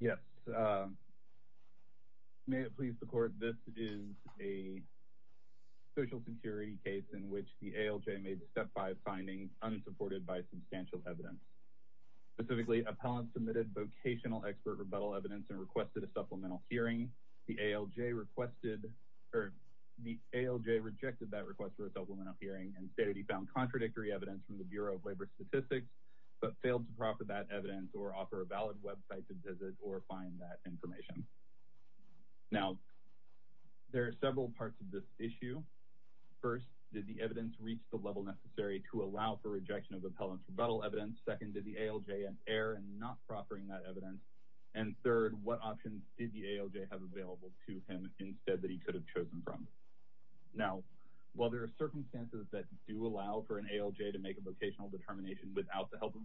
yes may it please the court this is a social security case in which the ALJ made step five findings unsupported by substantial evidence specifically appellant submitted vocational expert rebuttal evidence and requested a supplemental hearing the ALJ requested or the ALJ rejected that request for a supplemental hearing and stated he found contradictory evidence from the bureau of labor statistics but failed to proffer that evidence or offer a valid website to visit or find that information now there are several parts of this issue first did the evidence reach the level necessary to allow for rejection of appellant's rebuttal evidence second did the ALJ and error and not proffering that evidence and third what options did the ALJ have available to him instead that he could have chosen from now while there are circumstances that do allow for an ALJ to make a vocational determination without the help of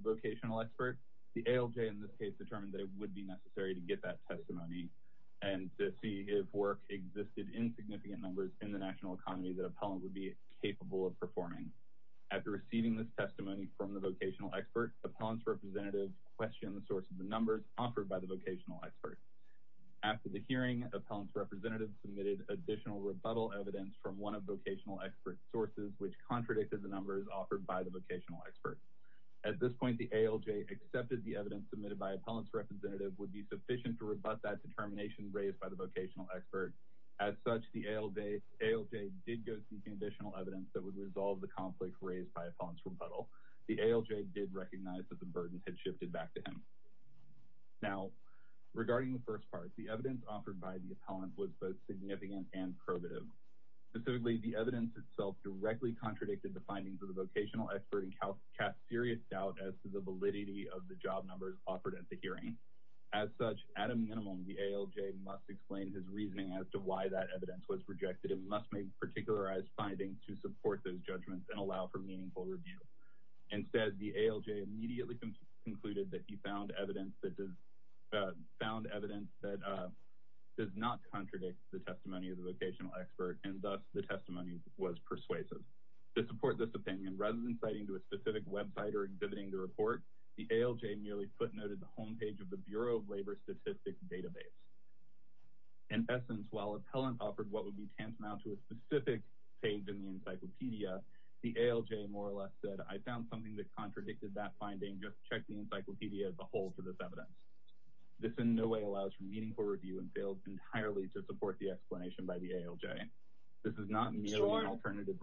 be necessary to get that testimony and to see if work existed in significant numbers in the national economy that appellant would be capable of performing after receiving this testimony from the vocational expert appellant's representative questioned the source of the numbers offered by the vocational expert after the hearing appellant's representative submitted additional rebuttal evidence from one of vocational expert sources which contradicted the numbers offered by the sufficient to rebut that determination raised by the vocational expert as such the ALJ did go seeking additional evidence that would resolve the conflict raised by appellant's rebuttal the ALJ did recognize that the burden had shifted back to him now regarding the first part the evidence offered by the appellant was both significant and probative specifically the evidence itself directly contradicted the findings of the vocational expert and cast serious doubt as the validity of the job numbers offered at the hearing as such at a minimum the ALJ must explain his reasoning as to why that evidence was rejected it must make particularized findings to support those judgments and allow for meaningful review instead the ALJ immediately concluded that he found evidence that does not contradict the testimony of the vocational expert and thus the testimony was persuasive to support this opinion rather than citing to a specific website or exhibiting the report the ALJ nearly footnoted the home page of the bureau of labor statistics database in essence while appellant offered what would be tantamount to a specific page in the encyclopedia the ALJ more or less said i found something that contradicted that finding just check the encyclopedia as a whole for this evidence this in no way allows for meaningful review and failed entirely to support the explanation by the ALJ this is not an alternative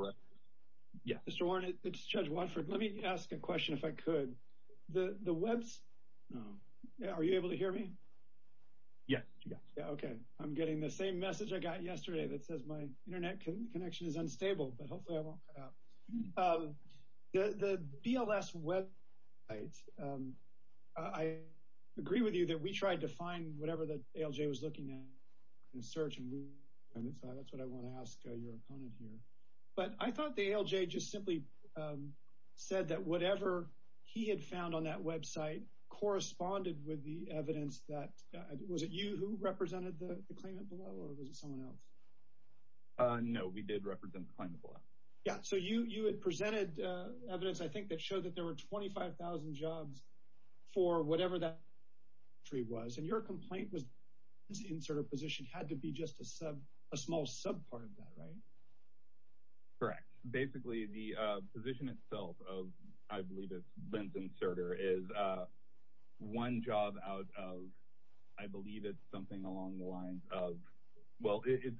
yeah mr warren it's judge watford let me ask a question if i could the the webs no yeah are you able to hear me yeah yeah okay i'm getting the same message i got yesterday that says my internet connection is unstable but hopefully i won't cut out um the the bls website um i agree with you that we tried to find whatever the ALJ was looking at in search and that's what i want to ask your opponent here but i thought the ALJ just simply um said that whatever he had found on that website corresponded with the evidence that was it you who represented the claimant below or was it someone else uh no we did represent the claimant below yeah so you you had presented uh evidence i think that showed that there were 25 000 jobs for whatever that tree was and your complaint was insert a position had to be just a sub a small sub part of that right correct basically the uh position itself of i believe it's lens inserter is uh one job out of i believe it's something along the lines of well it's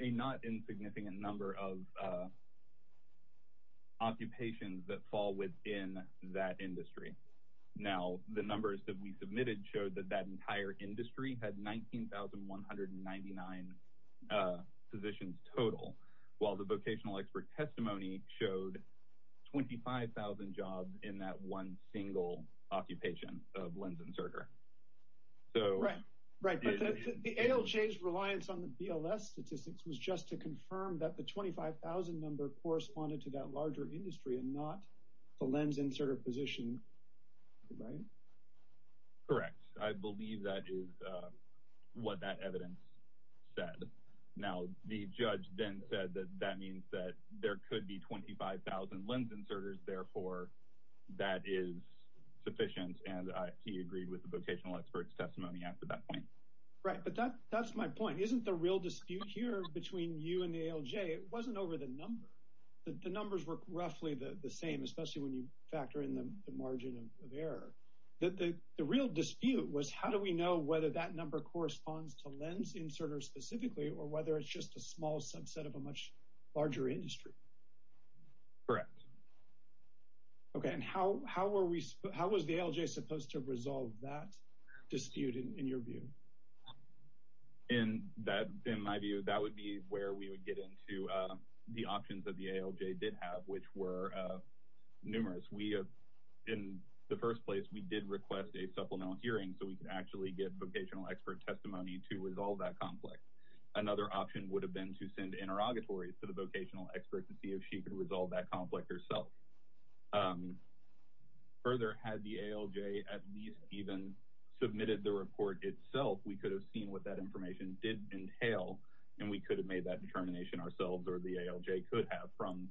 a not insignificant number of uh occupations that fall within that industry now the numbers that we submitted showed that that 11,199 uh positions total while the vocational expert testimony showed 25,000 jobs in that one single occupation of lens inserter so right right the ALJ's reliance on the bls statistics was just to confirm that the 25,000 number corresponded to that larger industry and not the lens inserter position right correct i believe that is uh what that evidence said now the judge then said that that means that there could be 25,000 lens inserters therefore that is sufficient and he agreed with the vocational experts testimony act at that point right but that that's my point isn't the real dispute here between you and the ALJ it wasn't over the number the numbers were the margin of error that the the real dispute was how do we know whether that number corresponds to lens inserters specifically or whether it's just a small subset of a much larger industry correct okay and how how were we how was the ALJ supposed to resolve that dispute in your view in that in my view that would be where we would get into uh the options that the ALJ did have which were uh numerous we have in the first place we did request a supplemental hearing so we could actually get vocational expert testimony to resolve that conflict another option would have been to send interrogatories to the vocational expert to see if she could resolve that conflict herself um further had the ALJ at least even submitted the report itself we could have seen what that information did entail and we could have made that determination ourselves or the ALJ could have from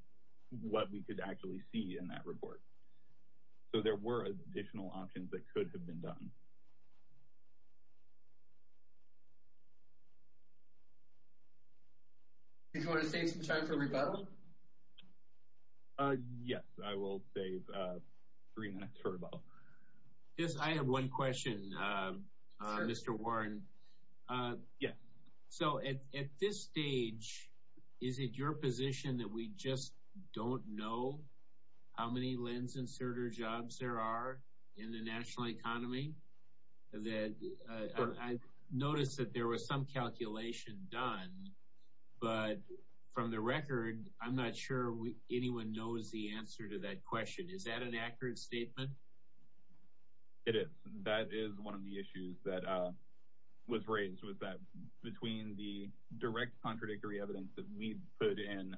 what we could actually see in that report so there were additional options that could have been done did you want to save some time for rebuttal uh yes i will save uh three minutes for about yes i have one question uh uh mr warren uh yeah so at at this stage is it your position that we just don't know how many lens inserter jobs there are in the national economy that i noticed that there was some calculation done but from the record i'm not sure anyone knows the answer to that question is that an accurate statement it is that is one of the issues that uh was raised was that between the direct contradictory evidence that we put in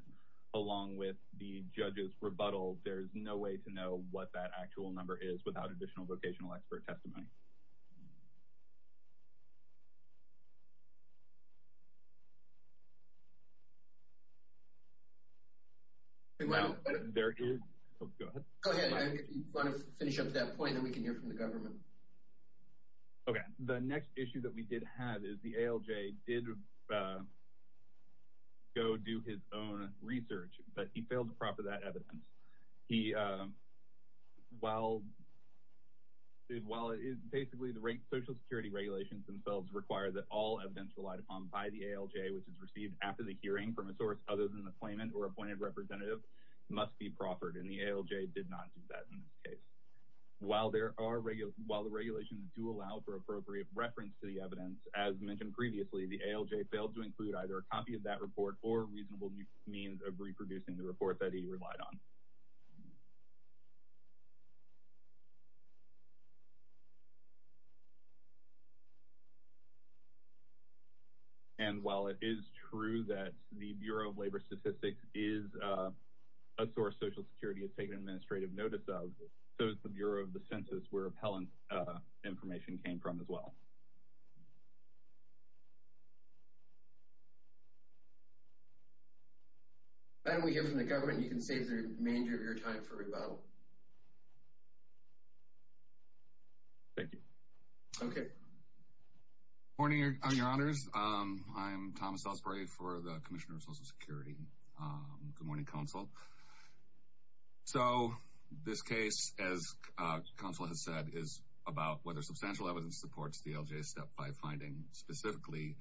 along with the judges rebuttal there is no way to know what that actual number is without additional vocational expert testimony um okay the next issue that we did have is the ALJ did uh go do his own research but he failed to the rate social security regulations themselves require that all evidence relied upon by the ALJ which is received after the hearing from a source other than the claimant or appointed representative must be proffered and the ALJ did not do that in this case while there are regular while the regulations do allow for appropriate reference to the evidence as mentioned previously the ALJ failed to include either a copy of that report or reasonable means of reproducing the report that he relied on and while it is true that the bureau of labor statistics is uh a source social security has taken administrative notice of so it's the bureau of the census where appellant uh information came from as well and we hear from the government you can save the remainder of your time for rebuttal thank you okay morning your honors um i am thomas osprey for the commissioner of social security um good morning counsel so this case as uh council has said is about whether substantial evidence supports the ALJ step by finding specifically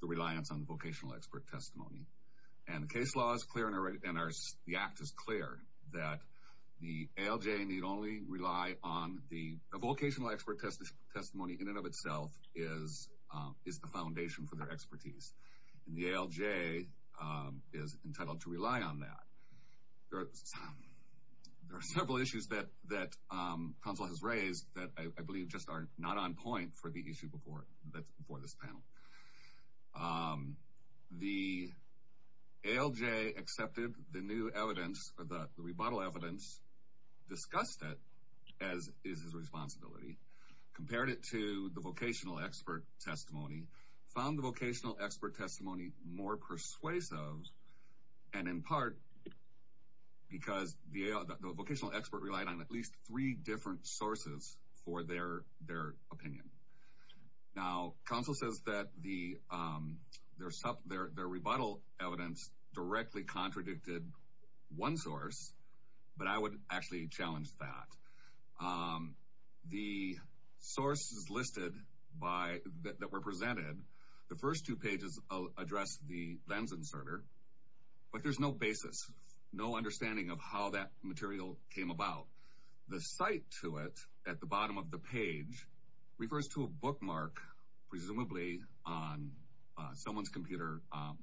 the reliance on the vocational expert testimony and the case law is clear and the act is clear that the ALJ need only rely on the vocational expert testimony in and of itself is um is the foundation for their expertise and the ALJ um is entitled to rely on that there are several issues that that um council has raised that i believe just are not on point for the issue before that for this panel um the ALJ accepted the new evidence or the rebuttal evidence discussed it as is his responsibility compared it to the vocational expert testimony found the vocational expert testimony more persuasive and in part because the the vocational expert relied on at least three different sources for their their opinion now council says that the um their stuff their their rebuttal evidence directly contradicted one source but i would actually challenge that um the source is listed by that were presented the first two pages address the lens inserter but there's no basis no understanding of how that material came about the site to it at the bottom of the page refers to a bookmark presumably on someone's computer um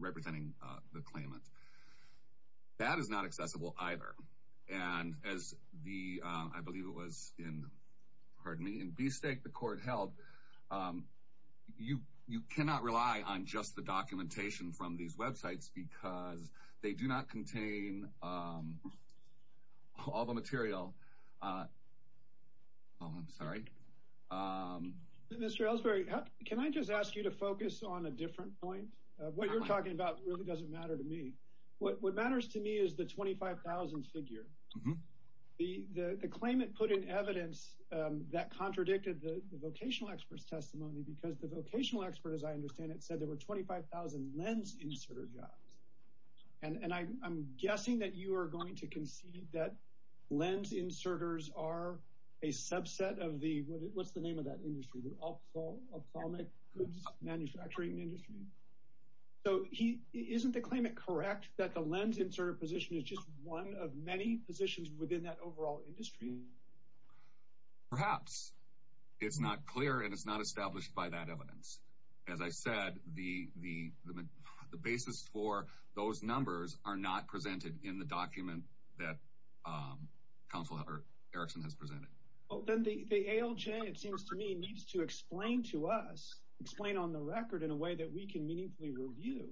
representing uh the claimant that is not accessible either and as the uh i believe it was in pardon me in b-state the court held um you you cannot rely on just the documentation from these websites because they do not contain um all the material uh oh i'm sorry um mr ellsbury can i just ask you to focus on a different point what you're talking about really doesn't matter to me what what matters to me is the 25 000 figure the the the claimant put in evidence um that testimony because the vocational expert as i understand it said there were 25 000 lens inserter jobs and and i i'm guessing that you are going to concede that lens inserters are a subset of the what's the name of that industry the ophthalmic goods manufacturing industry so he isn't the claimant correct that the lens insert position is just one of many positions within that overall industry perhaps it's not clear and it's not established by that evidence as i said the the the basis for those numbers are not presented in the document that um council erickson has presented well then the the alj it seems to me needs to explain to us explain on the record in a way that we can meaningfully review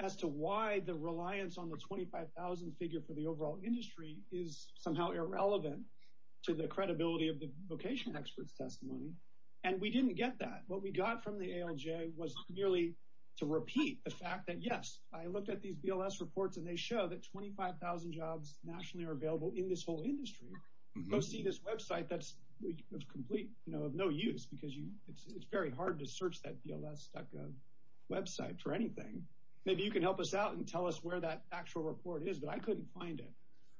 as to why the reliance on the 25 000 figure for the overall industry is somehow irrelevant to the credibility of the vocational experts testimony and we didn't get that what we got from the alj was merely to repeat the fact that yes i looked at these bls reports and they show that 25 000 jobs nationally are available in this whole industry go see this website that's complete you know of no use because you it's very hard to search that bls.gov website for anything maybe you can help us out and tell us where that actual report is but i couldn't find it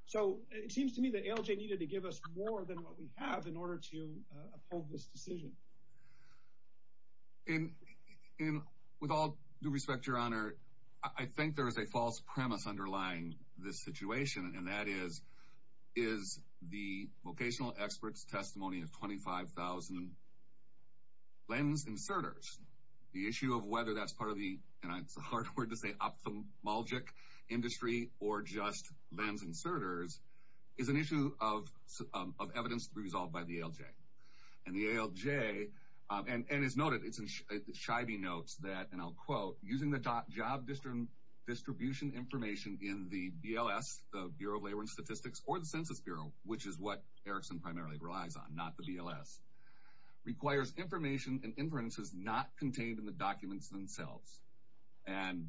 so it seems to me that alj needed to give us more than what we have in order to uphold this decision and and with all due respect your honor i think there is a false premise underlying this situation and that is is the vocational experts testimony of 25 000 lens inserters the issue of whether that's part of the and it's a hard word to say ophthalmologic industry or just lens inserters is an issue of of evidence resolved by the alj and the alj and and it's noted it's in shiby notes that and i'll quote using the top job distribution information in the bls the bureau of laboring statistics or the census bureau which is what erickson primarily relies on not the bls requires information and inferences not contained in the documents themselves and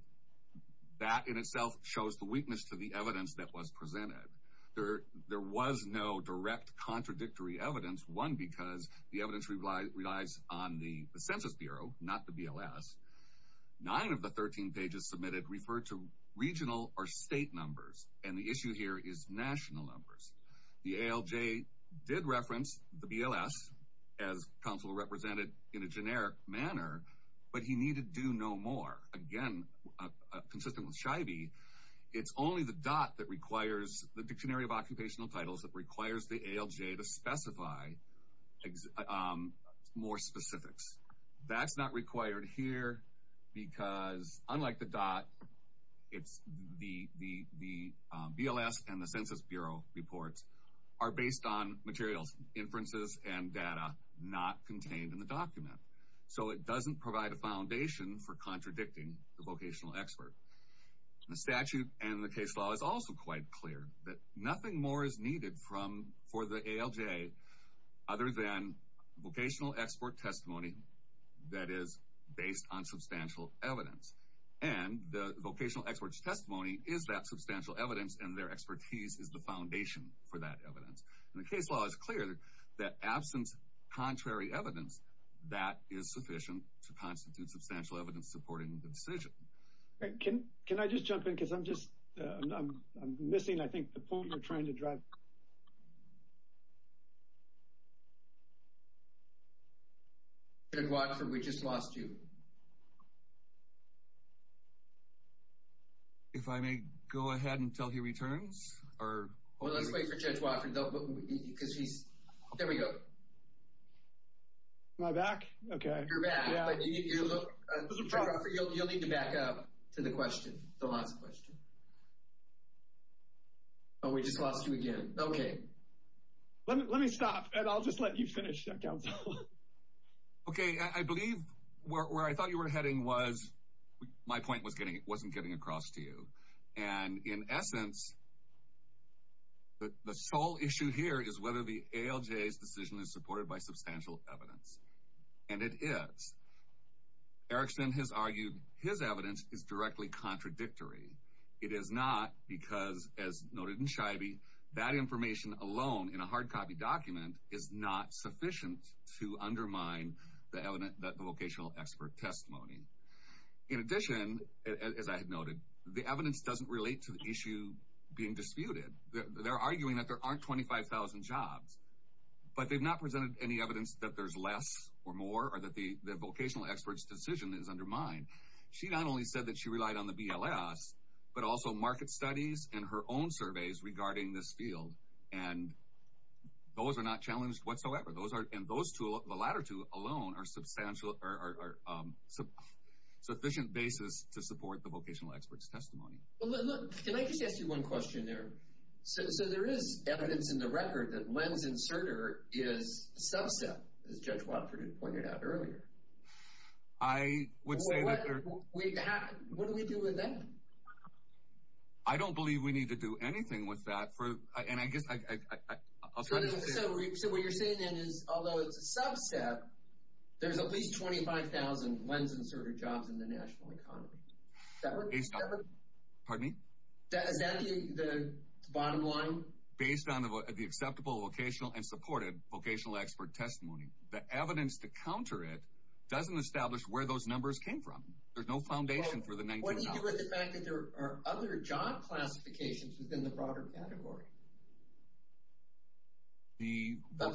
that in itself shows the weakness to the evidence that was presented there there was no direct contradictory evidence one because the evidence relies on the census bureau not the bls nine of the 13 pages submitted referred to regional or state numbers and the issue here is national numbers the alj did reference the bls as council represented in a generic manner but he needed to know more again consistent with shiby it's only the dot that requires the dictionary of occupational titles that requires the alj to specify more specifics that's not required here because unlike the dot it's the the the bls and the so it doesn't provide a foundation for contradicting the vocational expert the statute and the case law is also quite clear that nothing more is needed from for the alj other than vocational export testimony that is based on substantial evidence and the vocational experts testimony is that substantial evidence and their expertise is the foundation for that that is sufficient to constitute substantial evidence supporting the decision okay can can i just jump in because i'm just i'm missing i think the point you're trying to drive judge watson we just lost you if i may go ahead and tell he returns or well let's wait for judge watson because he's there we go am i back okay you're back but you look you'll need to back up to the question the last question oh we just lost you again okay let me let me stop and i'll just let you finish that council okay i believe where i thought you were heading was my point was getting it wasn't getting across to you and in essence the the sole issue here is whether the alj's decision is supported by substantial evidence and it is erickson has argued his evidence is directly contradictory it is not because as noted in chivy that information alone in a hard copy document is not sufficient to undermine the evidence that the vocational expert testimony in addition as i had noted the evidence doesn't relate to the issue being disputed they're arguing that there aren't 25 000 jobs but they've not presented any evidence that there's less or more or that the the vocational experts decision is undermined she not only said that she relied on the bls but also market studies and her own surveys regarding this field and those are not challenged whatsoever those are and those two the latter two alone are substantial or um sufficient basis to support the vocational experts testimony well look can i just ask you one question there so there is evidence in the record that lens inserter is subset as judge watford had pointed out earlier i would say what do we do with that i don't believe we need to do anything with that for and i guess i i'll try to so what you're saying then is although it's a subset there's at least 25 000 lens inserter jobs in the national economy that would be pardon me that is that the the bottom line based on the the acceptable vocational and supported vocational expert testimony the evidence to counter it doesn't establish where those numbers came from there's no foundation for the 19 what do you do with the fact that there are other job classifications within the broader the the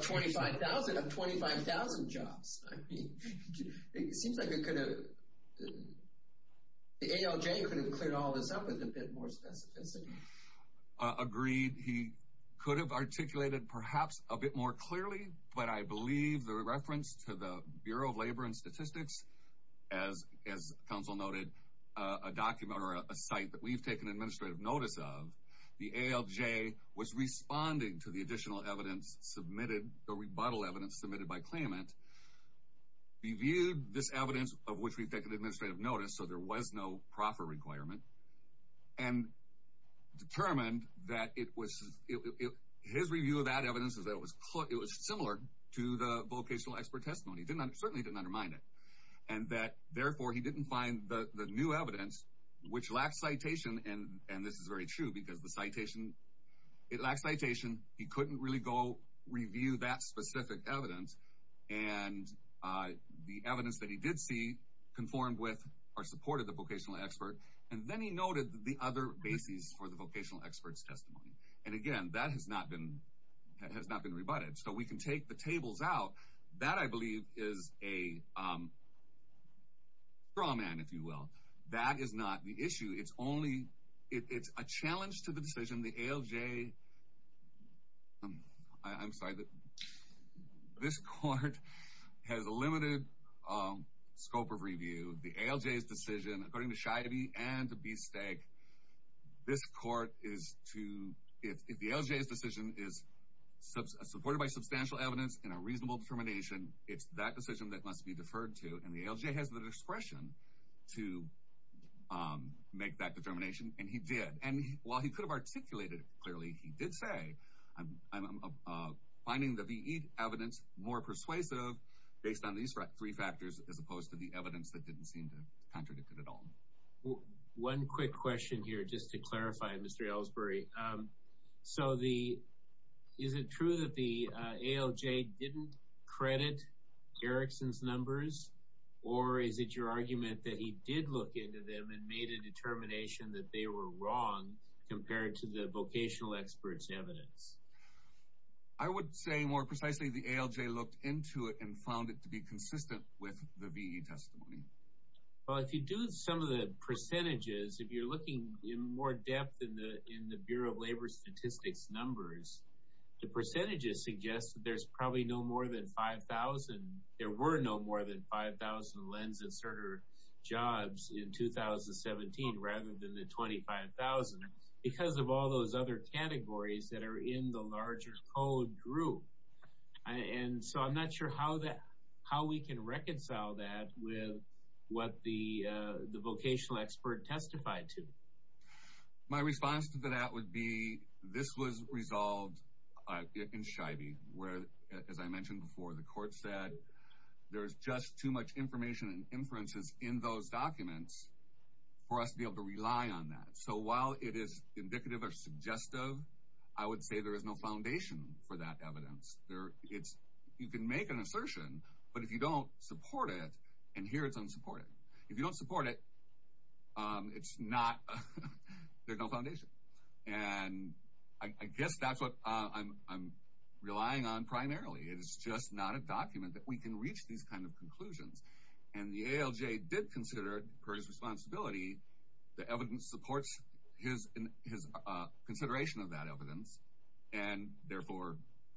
alj could have cleared all this up with a bit more specificity agreed he could have articulated perhaps a bit more clearly but i believe the reference to the bureau of labor and statistics as as counsel noted uh a document or a site that we've taken administrative notice of the alj was responding to the additional evidence submitted the rebuttal evidence submitted by claimant reviewed this evidence of which we've taken administrative notice so there was no proffer requirement and determined that it was his review of that evidence is that it was it was similar to the vocational expert testimony he did not certainly didn't undermine it and that therefore he didn't find the the new evidence which lacks citation and and this is very true because the citation it lacks citation he couldn't really go review that specific evidence and uh the evidence that he did see conformed with or supported the vocational expert and then he noted the other bases for the vocational experts testimony and again that has not been that has not been rebutted so we can take the tables out that i believe is a um raw man if you will that is not the issue it's only it's a challenge to the decision the alj i'm sorry that this court has a limited um scope of review the alj's decision according to shy to be and to be stag this court is to if the alj's decision is supported by substantial evidence in a reasonable determination it's that decision that must be deferred to and the alj has discretion to um make that determination and he did and while he could have articulated clearly he did say i'm i'm finding the ve evidence more persuasive based on these three factors as opposed to the evidence that didn't seem to contradict it at all one quick question here just to clarify um so the is it true that the alj didn't credit erickson's numbers or is it your argument that he did look into them and made a determination that they were wrong compared to the vocational experts evidence i would say more precisely the alj looked into it and found it to be consistent with the ve testimony well if you do some of the percentages if you're looking in more depth in the in the bureau of labor statistics numbers the percentages suggest that there's probably no more than 5 000 there were no more than 5 000 lens inserter jobs in 2017 rather than the 25 000 because of all those other categories that are in the larger code group and so i'm not sure how that how we can reconcile that with what the uh the vocational expert testified to my response to that would be this was resolved in chivy where as i mentioned before the court said there's just too much information and inferences in those documents for us to be able to rely on that so while it is indicative or suggestive i would say there is no foundation for that evidence there it's you can make an assertion but if you don't support it and here it's unsupported if you don't support it um it's not there's no foundation and i guess that's what i'm i'm relying on primarily it is just not a document that we can reach these kind of conclusions and the alj did consider per his responsibility the evidence supports his in his uh consideration of that evidence and therefore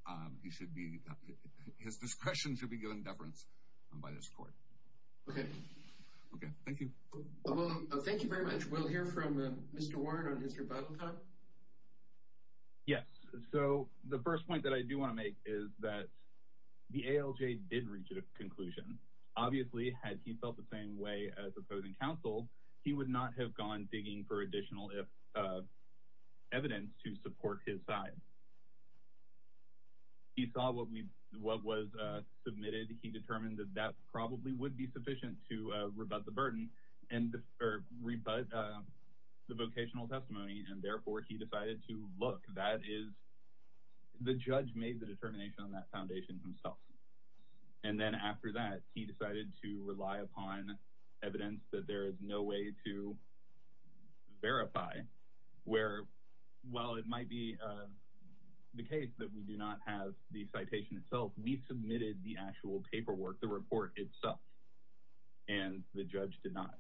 um he should be his discretion should be given deference by this court okay okay thank you well thank you very much we'll hear from mr warren on his rebuttal time yes so the first point that i do want to make is that the alj did reach a conclusion obviously had he felt the same way as opposing counsel he would not have gone digging for his side he saw what we what was uh submitted he determined that that probably would be sufficient to uh rebut the burden and or rebut uh the vocational testimony and therefore he decided to look that is the judge made the determination on that foundation himself and then after that he decided to rely upon evidence that there is no way to verify where well it might be the case that we do not have the citation itself we submitted the actual paperwork the report itself and the judge did not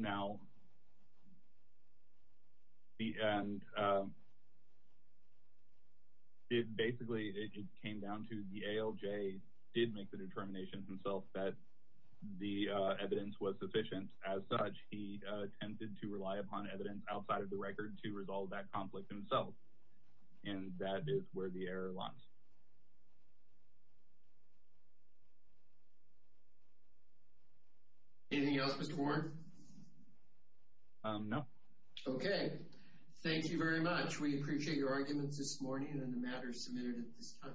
now the and um basically it came down to the alj did make the determination himself that the uh evidence was sufficient as such he uh attempted to rely upon evidence outside of the record to resolve that conflict himself and that is where the error lies anything else mr warren um no okay thank you very much we appreciate your arguments this morning and the matter submitted at this time